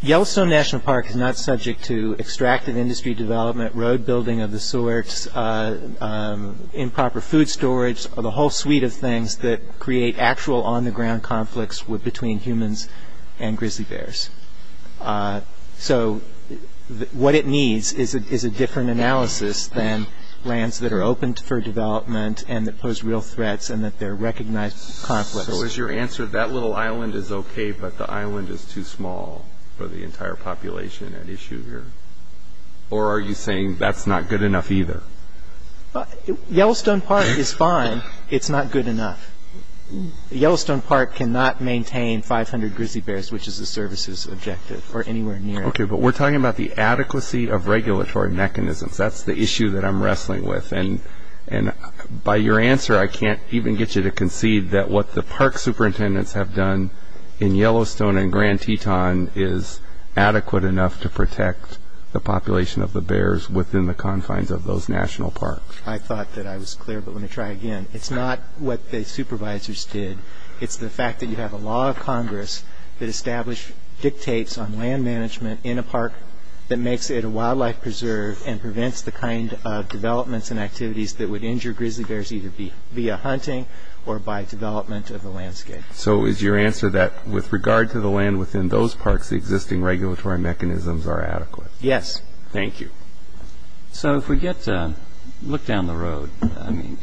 Yellowstone National Park is not subject to extractive industry development, road building of the sorts, improper food storage, or the whole suite of things that create actual on the ground conflicts between humans and grizzly bears. So what it needs is a different analysis than lands that are open for development and that pose real threats and that there are recognized conflicts. So is your answer, that little island is okay, but the island is too small for the entire population at issue here? Or are you saying that's not good enough either? Yellowstone Park is fine. It's not good enough. Yellowstone Park cannot maintain 500 grizzly bears, which is the service's objective, or anywhere near it. Okay, but we're talking about the adequacy of regulatory mechanisms. That's the issue that I'm wrestling with. And by your answer, I can't even get you to concede that what the park superintendents have done in Yellowstone and Grand Teton is adequate enough to protect the population of the bears within the confines of those national parks. I thought that I was clear, but let me try again. It's not what the supervisors did. It's the fact that you have a law of Congress that dictates on land management in a park that makes it a wildlife preserve and prevents the kind of developments and activities that would injure grizzly bears either via hunting or by development of the landscape. So is your answer that with regard to the land within those parks, the existing regulatory mechanisms are adequate? Yes. Thank you. So if we get to look down the road, I mean,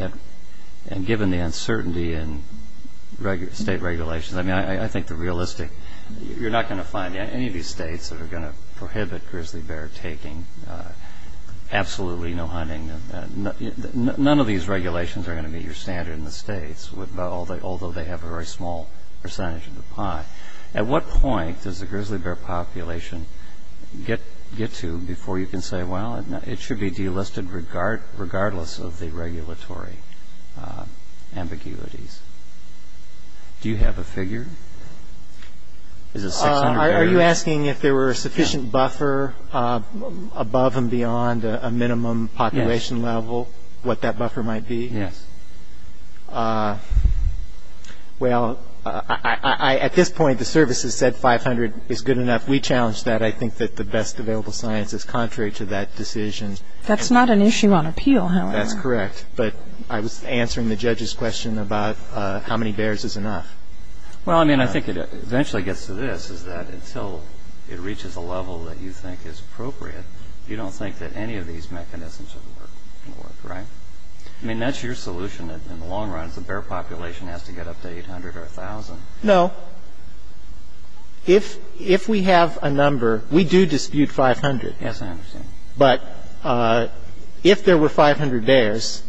and given the uncertainty in state regulations, I mean, I think the realistic, you're not going to find any of these states that are going to prohibit grizzly bear taking, absolutely no hunting, none of these regulations are going to meet your standard in the states, although they have a very small percentage of the pie. At what point does the grizzly bear population get to before you can say, well, it should be delisted regardless of the regulatory ambiguities? Do you have a figure? Is it 600 bears? Are you asking if there were a sufficient buffer above and beyond a minimum population level, what that buffer might be? Yes. Well, at this point, the service has said 500 is good enough. We challenge that. I think that the best available science is contrary to that decision. That's not an issue on appeal, however. That's correct. But I was answering the judge's question about how many bears is enough. Well, I mean, I think it eventually gets to this, is that until it reaches a level that you think is appropriate, you don't think that any of these mechanisms are going to work, right? I mean, that's your solution in the long run, is the bear population has to get up to 800 or 1,000. No. If we have a number, we do dispute 500. Yes, I understand. But if there were 500 bears,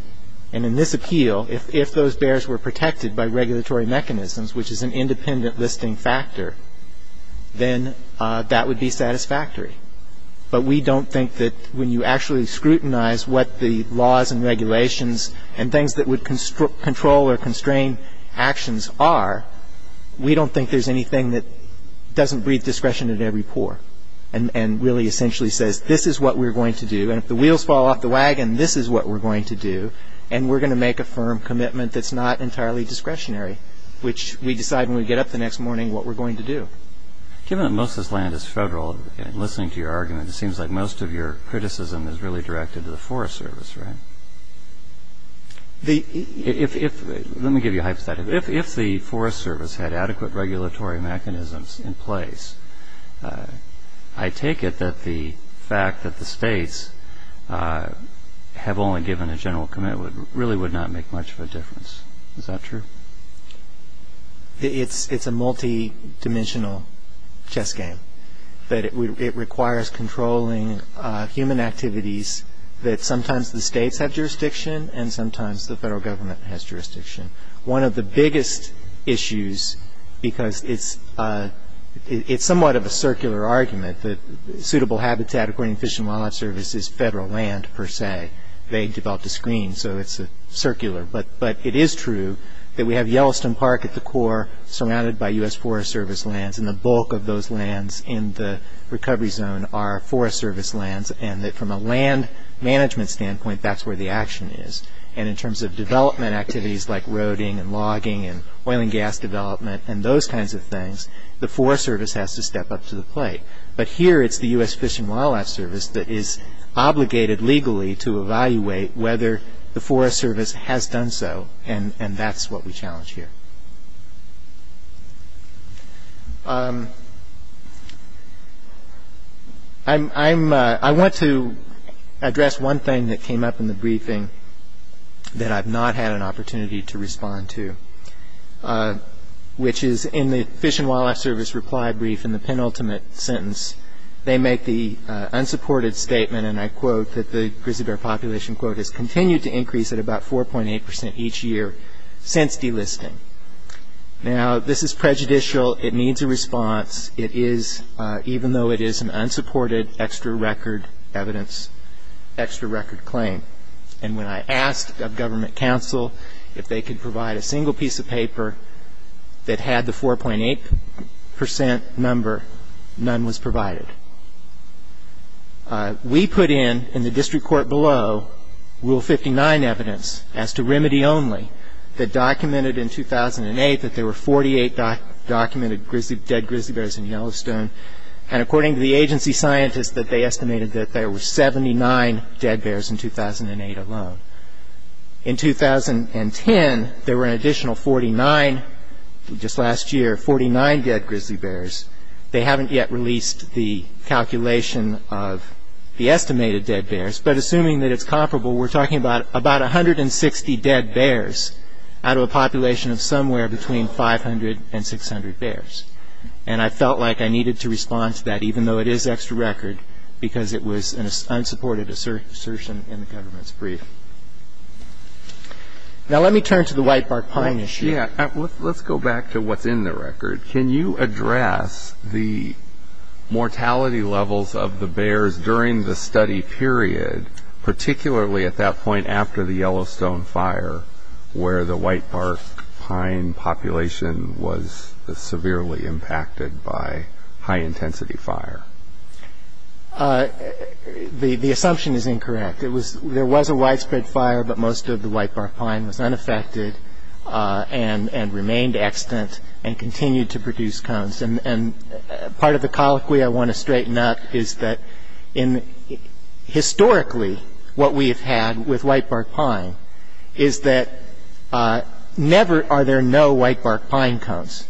and in this appeal, if those bears were protected by regulatory mechanisms, which is an independent listing factor, then that would be satisfactory. But we don't think that when you actually scrutinize what the laws and regulations and things that would control or constrain actions are, we don't think there's anything that doesn't breathe discretion into every poor and really essentially says, this is what we're going to do. And if the wheels fall off the wagon, this is what we're going to do. And we're going to make a firm commitment that's not entirely discretionary, which we decide when we get up the next morning what we're going to do. Given that most of this land is federal, and listening to your argument, it seems like most of your criticism is really directed to the Forest Service, right? Let me give you a hypothetical. If the Forest Service had adequate regulatory mechanisms in place, I take it that the fact that the states have only given a general commitment really would not make much of a difference. Is that true? It's a multi-dimensional chess game. That it requires controlling human activities that sometimes the states have jurisdiction and sometimes the federal government has jurisdiction. One of the biggest issues, because it's somewhat of a circular argument that suitable habitat, according to Fish and Wildlife Service, is federal land per se. They developed a screen, so it's circular. But it is true that we have Yellowstone Park at the core, surrounded by U.S. Forest Service lands, and the bulk of those lands in the recovery zone are Forest Service lands, and that from a land management standpoint, that's where the action is. And in terms of development activities like roading and logging and oil and gas development and those kinds of things, the Forest Service has to step up to the plate. But here it's the U.S. Fish and Wildlife Service that is obligated legally to evaluate whether the Forest Service has done so, and that's what we challenge here. I want to address one thing that came up in the briefing that I've not had an opportunity to respond to, which is in the Fish and Wildlife Service reply brief in the penultimate sentence, they make the unsupported statement, and I quote, that the grizzly bear population, quote, has continued to increase at about 4.8 percent each year since delisting. Now, this is prejudicial. It needs a response. It is, even though it is an unsupported extra record evidence, extra record claim. And when I asked of government counsel if they could provide a single piece of paper that had the 4.8 percent number, none was provided. We put in, in the district court below, Rule 59 evidence as to remedy only that documented in 2008 that there were 48 documented dead grizzly bears in Yellowstone, and according to the agency scientists, that they estimated that there were 79 dead bears in 2008 alone. In 2010, there were an additional 49, just last year, 49 dead grizzly bears. They haven't yet released the calculation of the estimated dead bears, but assuming that it's comparable, we're talking about 160 dead bears out of a population of somewhere between 500 and 600 bears, and I felt like I needed to respond to that, even though it is extra record, because it was an unsupported assertion in the government's brief. Now, let me turn to the whitebark pine issue. Yeah, let's go back to what's in the record. Can you address the mortality levels of the bears during the study period, particularly at that point after the Yellowstone fire, where the whitebark pine population was severely impacted by high-intensity fire? The assumption is incorrect. There was a widespread fire, but most of the whitebark pine was unaffected and remained extant and continued to produce cones, and part of the colloquy I want to straighten up is that, historically, what we have had with whitebark pine is that never are there no whitebark pine cones.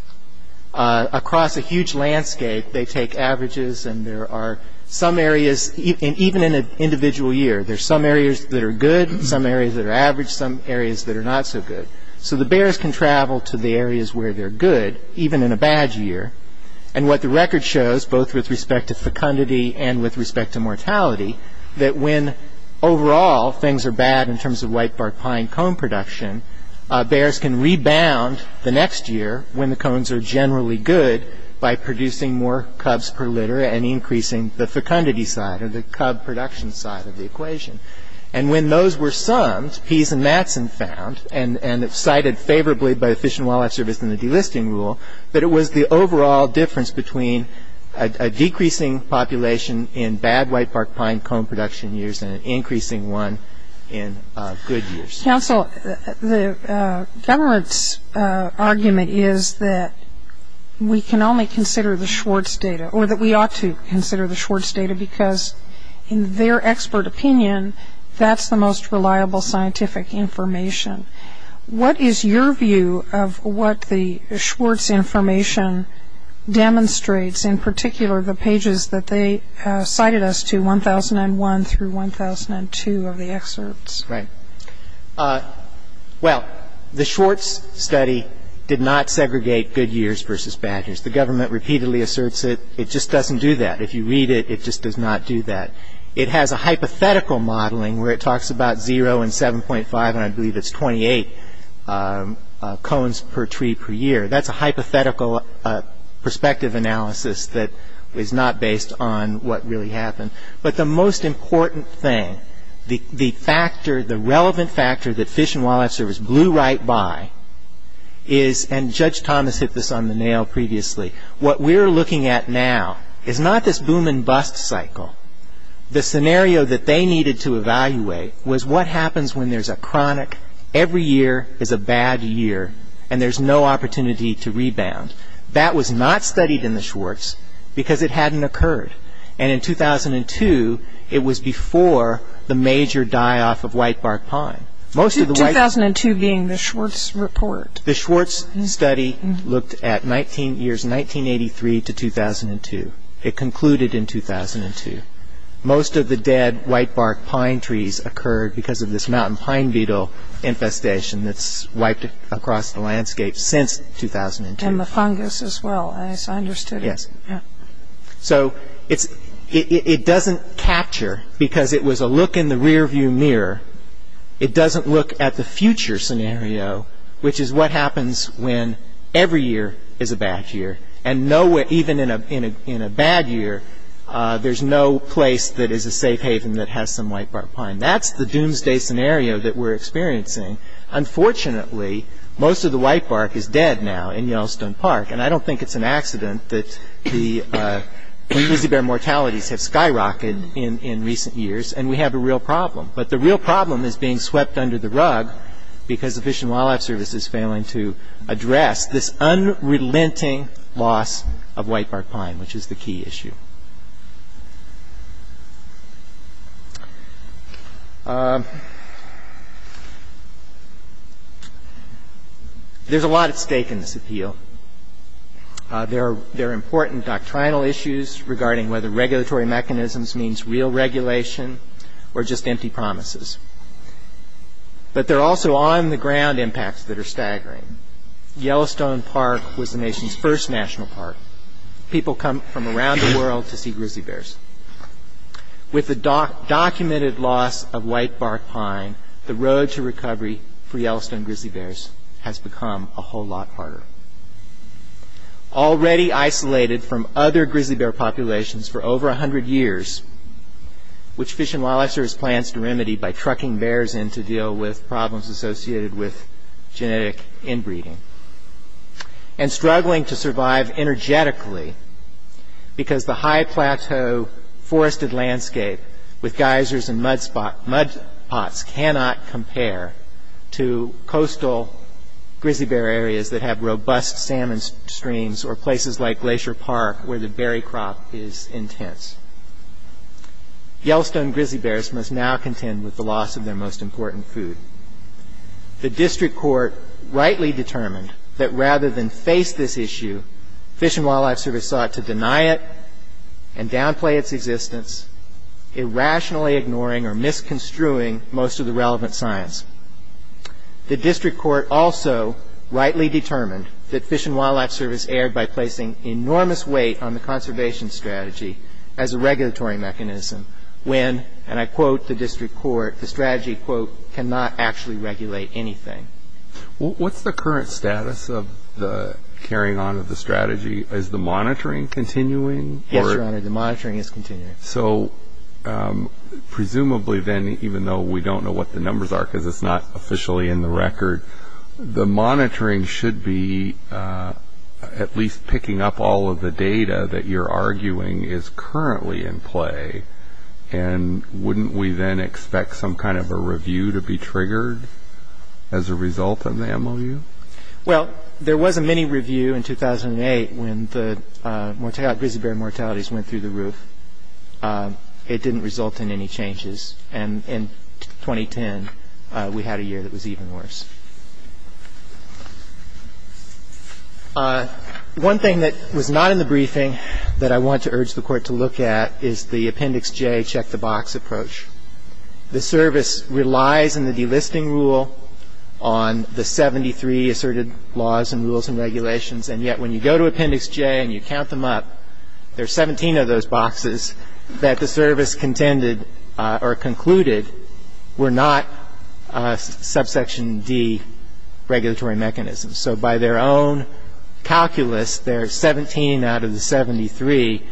Across a huge landscape, they take averages, and there are some areas, even in an individual year, there are some areas that are good, some areas that are average, some areas that are not so good. So the bears can travel to the areas where they're good, even in a bad year, and what the record shows, both with respect to fecundity and with respect to mortality, that when overall things are bad in terms of whitebark pine cone production, bears can rebound the next year when the cones are generally good by producing more cubs per litter and increasing the fecundity side or the cub production side of the equation. And when those were summed, Pease and Mattson found, and cited favorably by the Fish and Wildlife Service in the delisting rule, that it was the overall difference between a decreasing population in bad whitebark pine cone production years and an increasing one in good years. Counsel, the government's argument is that we can only consider the Schwartz data, or that we ought to consider the Schwartz data, because in their expert opinion, that's the most reliable scientific information. What is your view of what the Schwartz information demonstrates, in particular the pages that they cited us to, 1001 through 1002 of the excerpts? Right. Well, the Schwartz study did not segregate good years versus bad years. The government repeatedly asserts it. It just doesn't do that. If you read it, it just does not do that. It has a hypothetical modeling where it talks about zero and 7.5, and I believe it's 28 cones per tree per year. That's a hypothetical perspective analysis that is not based on what really happened. But the most important thing, the factor, the relevant factor that Fish and Wildlife Service blew right by, and Judge Thomas hit this on the nail previously, what we're looking at now is not this boom and bust cycle. The scenario that they needed to evaluate was what happens when there's a chronic, every year is a bad year, and there's no opportunity to rebound. That was not studied in the Schwartz, because it hadn't occurred, and in 2002, it was before the major die-off of whitebark pine. 2002 being the Schwartz report. The Schwartz study looked at years 1983 to 2002. It concluded in 2002. Most of the dead whitebark pine trees occurred because of this mountain pine beetle infestation that's wiped across the landscape since 2002. And the fungus as well, as I understood it. So it doesn't capture, because it was a look in the rear-view mirror, it doesn't look at the future scenario, which is what happens when every year is a bad year, and even in a bad year, there's no place that is a safe haven that has some whitebark pine. That's the doomsday scenario that we're experiencing. Unfortunately, most of the whitebark is dead now in Yellowstone Park, and I don't think it's an accident that the Lizzie Bear mortalities have skyrocketed in recent years, and we have a real problem. But the real problem is being swept under the rug, because the Fish and Wildlife Service is failing to address this unrelenting loss of whitebark pine, which is the key issue. There's a lot at stake in this appeal. There are important doctrinal issues regarding whether regulatory mechanisms means real regulation or just empty promises. But there are also on-the-ground impacts that are staggering. Yellowstone Park was the nation's first national park. People come from around the world to see grizzly bears. With the documented loss of whitebark pine, the road to recovery for Yellowstone grizzly bears has become a whole lot harder. Already isolated from other grizzly bear populations for over 100 years, which Fish and Wildlife Service plans to remedy by trucking bears in to deal with problems associated with genetic inbreeding, and struggling to survive energetically because the high plateau forested landscape with geysers and mudspots cannot compare to coastal grizzly bear areas that have robust salmon streams or places like Glacier Park where the berry crop is intense. Yellowstone grizzly bears must now contend with the loss of their most important food. The district court rightly determined that rather than face this issue, Fish and Wildlife Service sought to deny it and downplay its existence, irrationally ignoring or misconstruing most of the relevant science. The district court also rightly determined that Fish and Wildlife Service erred by placing enormous weight on the conservation strategy as a regulatory mechanism when, and I quote the district court, the strategy, quote, cannot actually regulate anything. What's the current status of the carrying on of the strategy? Is the monitoring continuing? Yes, your honor, the monitoring is continuing. So presumably then, even though we don't know what the numbers are because it's not officially in the record, the monitoring should be at least picking up all of the data that you're then expect some kind of a review to be triggered as a result in the MOU? Well there was a mini review in 2008 when the grizzly bear mortalities went through the roof. It didn't result in any changes and in 2010 we had a year that was even worse. One thing that was not in the briefing that I want to urge the court to look at is the service relies in the delisting rule on the 73 asserted laws and rules and regulations and yet when you go to appendix J and you count them up, there's 17 of those boxes that the service contended or concluded were not subsection D regulatory mechanisms. So by their own calculus, there's 17 out of the 73.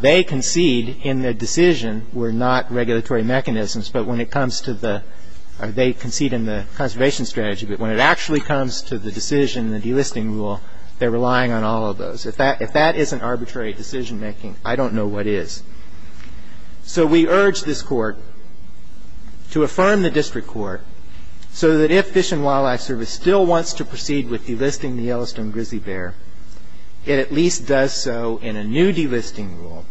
They concede in the decision were not regulatory mechanisms but when it comes to the, or they concede in the conservation strategy but when it actually comes to the decision, the delisting rule, they're relying on all of those. If that isn't arbitrary decision making, I don't know what is. So we urge this court to affirm the district court so that if Fish and Wildlife Service still wants to proceed with delisting the Yellowstone grizzly bear, it at least does so in a new delisting rule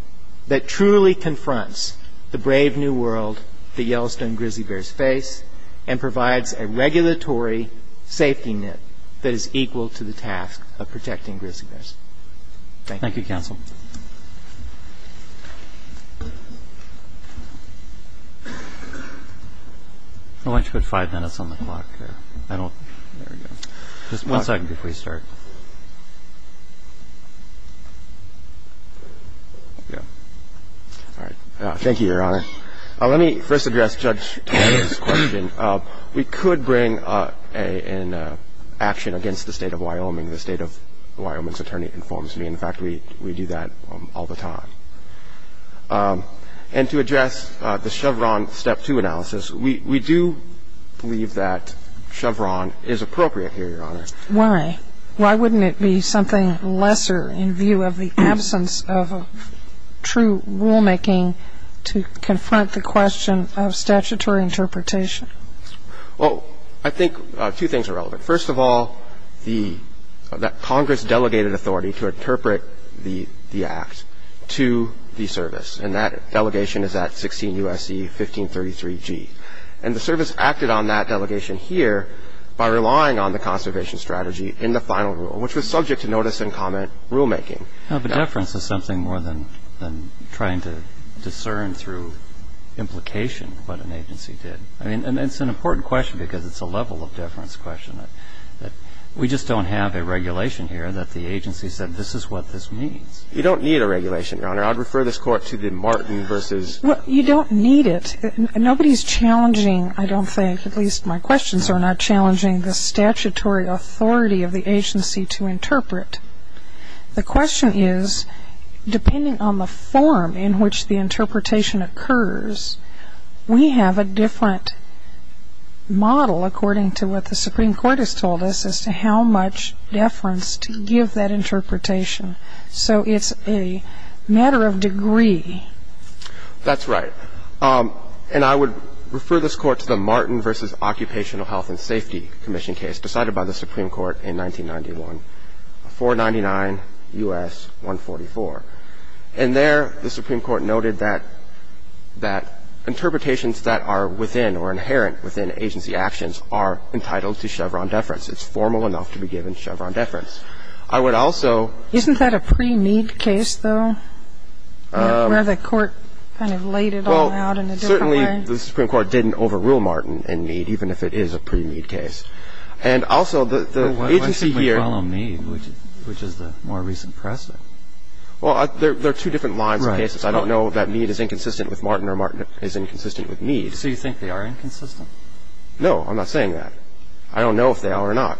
that truly confronts the brave new world the Yellowstone grizzly bears face and provides a regulatory safety net that is equal to the task of protecting grizzly bears. Thank you. Thank you, counsel. I want you to put five minutes on the clock here. I don't, there we go. Just one second before you start. Yeah. All right. Thank you, Your Honor. Let me first address Judge Taller's question. We could bring an action against the State of Wyoming. The State of Wyoming's attorney informs me. In fact, we do that all the time. And to address the Chevron step two analysis, we do believe that Chevron is appropriate here, Your Honor. Why? Why wouldn't it be something lesser in view of the absence of true rulemaking to confront the question of statutory interpretation? Well, I think two things are relevant. First of all, that Congress delegated authority to interpret the act to the service, and that delegation is at 16 U.S.C. 1533G. And the service acted on that delegation here by relying on the conservation strategy in the final rule, which was subject to notice and comment rulemaking. No, but deference is something more than trying to discern through implication what an agency did. I mean, it's an important question, because it's a level of deference question. We just don't have a regulation here that the agency said this is what this means. You don't need a regulation, Your Honor. I'd refer this Court to the Martin versus- Well, you don't need it. Nobody's challenging, I don't think, at least my questions are not challenging the statutory authority of the agency to interpret. The question is, depending on the form in which the interpretation occurs, we have a different model, according to what the Supreme Court has told us, as to how much deference to give that interpretation. So it's a matter of degree. That's right. And I would refer this Court to the Martin versus Occupational Health and Safety Commission case decided by the Supreme Court in 1991, 499 U.S. 144. And there, the Supreme Court noted that interpretations that are within or inherent within agency actions are entitled to Chevron deference. It's formal enough to be given Chevron deference. I would also- Isn't that a pre-mead case, though, where the Court kind of laid it all out in a different way? The Supreme Court didn't overrule Martin in Mead, even if it is a pre-mead case. And also, the agency here- But why shouldn't we follow Mead, which is the more recent precedent? Well, there are two different lines of cases. I don't know that Mead is inconsistent with Martin or Martin is inconsistent with Mead. So you think they are inconsistent? No, I'm not saying that. I don't know if they are or not.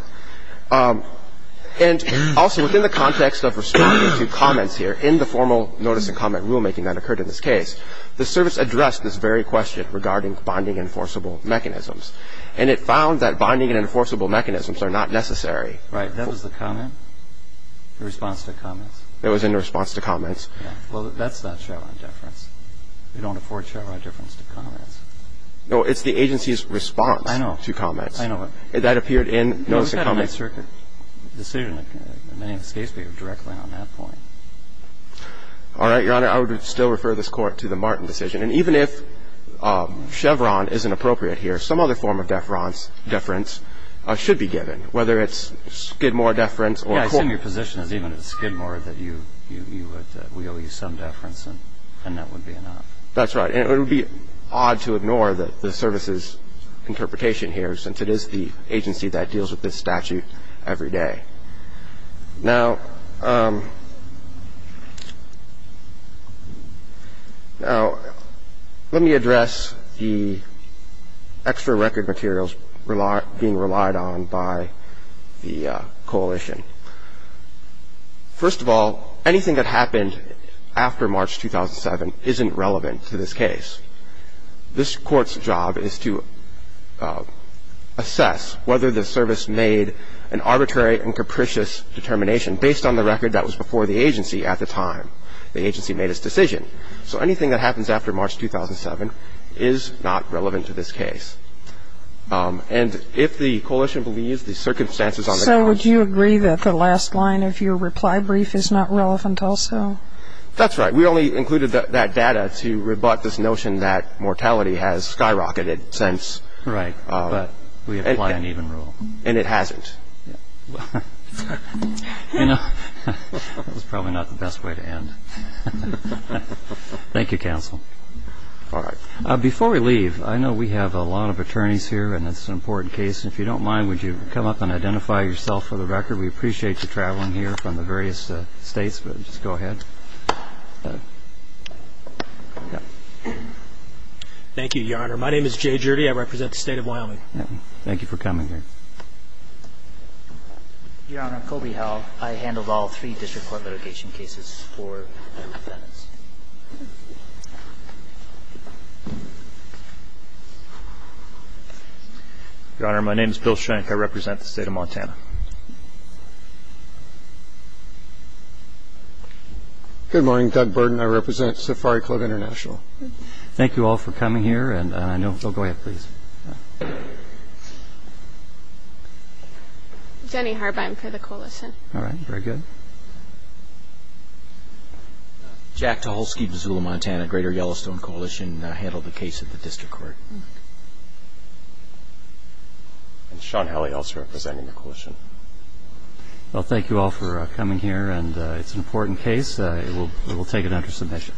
And also, within the context of responding to comments here, in the formal notice and question, the Supreme Court, in its final decision, the Supreme Court, in its final decision, has put forth a very clear and necessary question regarding bonding and enforceable mechanisms, and it found that bonding and enforceable mechanisms are not necessary. Right. That was the comment? The response to comments? It was in response to comments. Yeah. Well, that's not Chevron deference. We don't afford Chevron deference to comments. No, it's the agency's response to comments. I know. I know. That appeared in the notice and comments. I think it's a good question. I think the Supreme Court's decision to go with the United States Circuit, the decision in the name of the State of the State, is directly on that point. All right. Your Honor, I would still refer this Court to the Martin decision. And even if Chevron isn't appropriate here, some other form of deference should be given, whether it's Skidmore deference or court. Yeah. I assume your position is even if it's Skidmore, that you would — we owe you some deference and that would be enough. That's right. And it would be odd to ignore the service's interpretation here, since it is the agency that deals with this statute every day. Now let me address the extra record materials being relied on by the coalition. First of all, anything that happened after March 2007 isn't relevant to this case. This Court's job is to assess whether the service made an arbitrary and capricious determination based on the record that was before the agency at the time the agency made its decision. So anything that happens after March 2007 is not relevant to this case. And if the coalition believes the circumstances on the grounds of the court's decision that the agency made an arbitrary and capricious determination based on the record that was case. And the last line of your reply brief is not relevant also? That's right. We only included that data to rebut this notion that mortality has skyrocketed since. Right. But we apply an even rule. And it hasn't. Yeah. You know, that was probably not the best way to end. Thank you, counsel. All right. Before we leave, I know we have a lot of attorneys here, and it's an important case. If you don't mind, would you come up and identify yourself for the record? We appreciate you traveling here from the various states, but just go ahead. Thank you, Your Honor. My name is Jay Gjerde. Thank you. Thank you. Thank you. Thank you. Thank you. Thank you. Thank you. Thank you. Thank you. Thank you. Thank you. Please, go ahead with your question. Your Honor, I'm Colby Howell. I handled all three district court litigation cases for the Phoenix. Your Honor, my name is Bill Schenck. I represent the state of Montana. Good morning. Doug burden. I represent Safari Club International. Thank you all for coming here. We'll go ahead, please. Thank you. I'm Jenny Harbine for the coalition. All right. Very good. Jack Taholski, Missoula, Montana, Greater Yellowstone Coalition. I handled the case at the district court. I'm Sean Halley, also representing the coalition. Well, thank you all for coming here, and it's an important case. We will take it under submission. Thank you.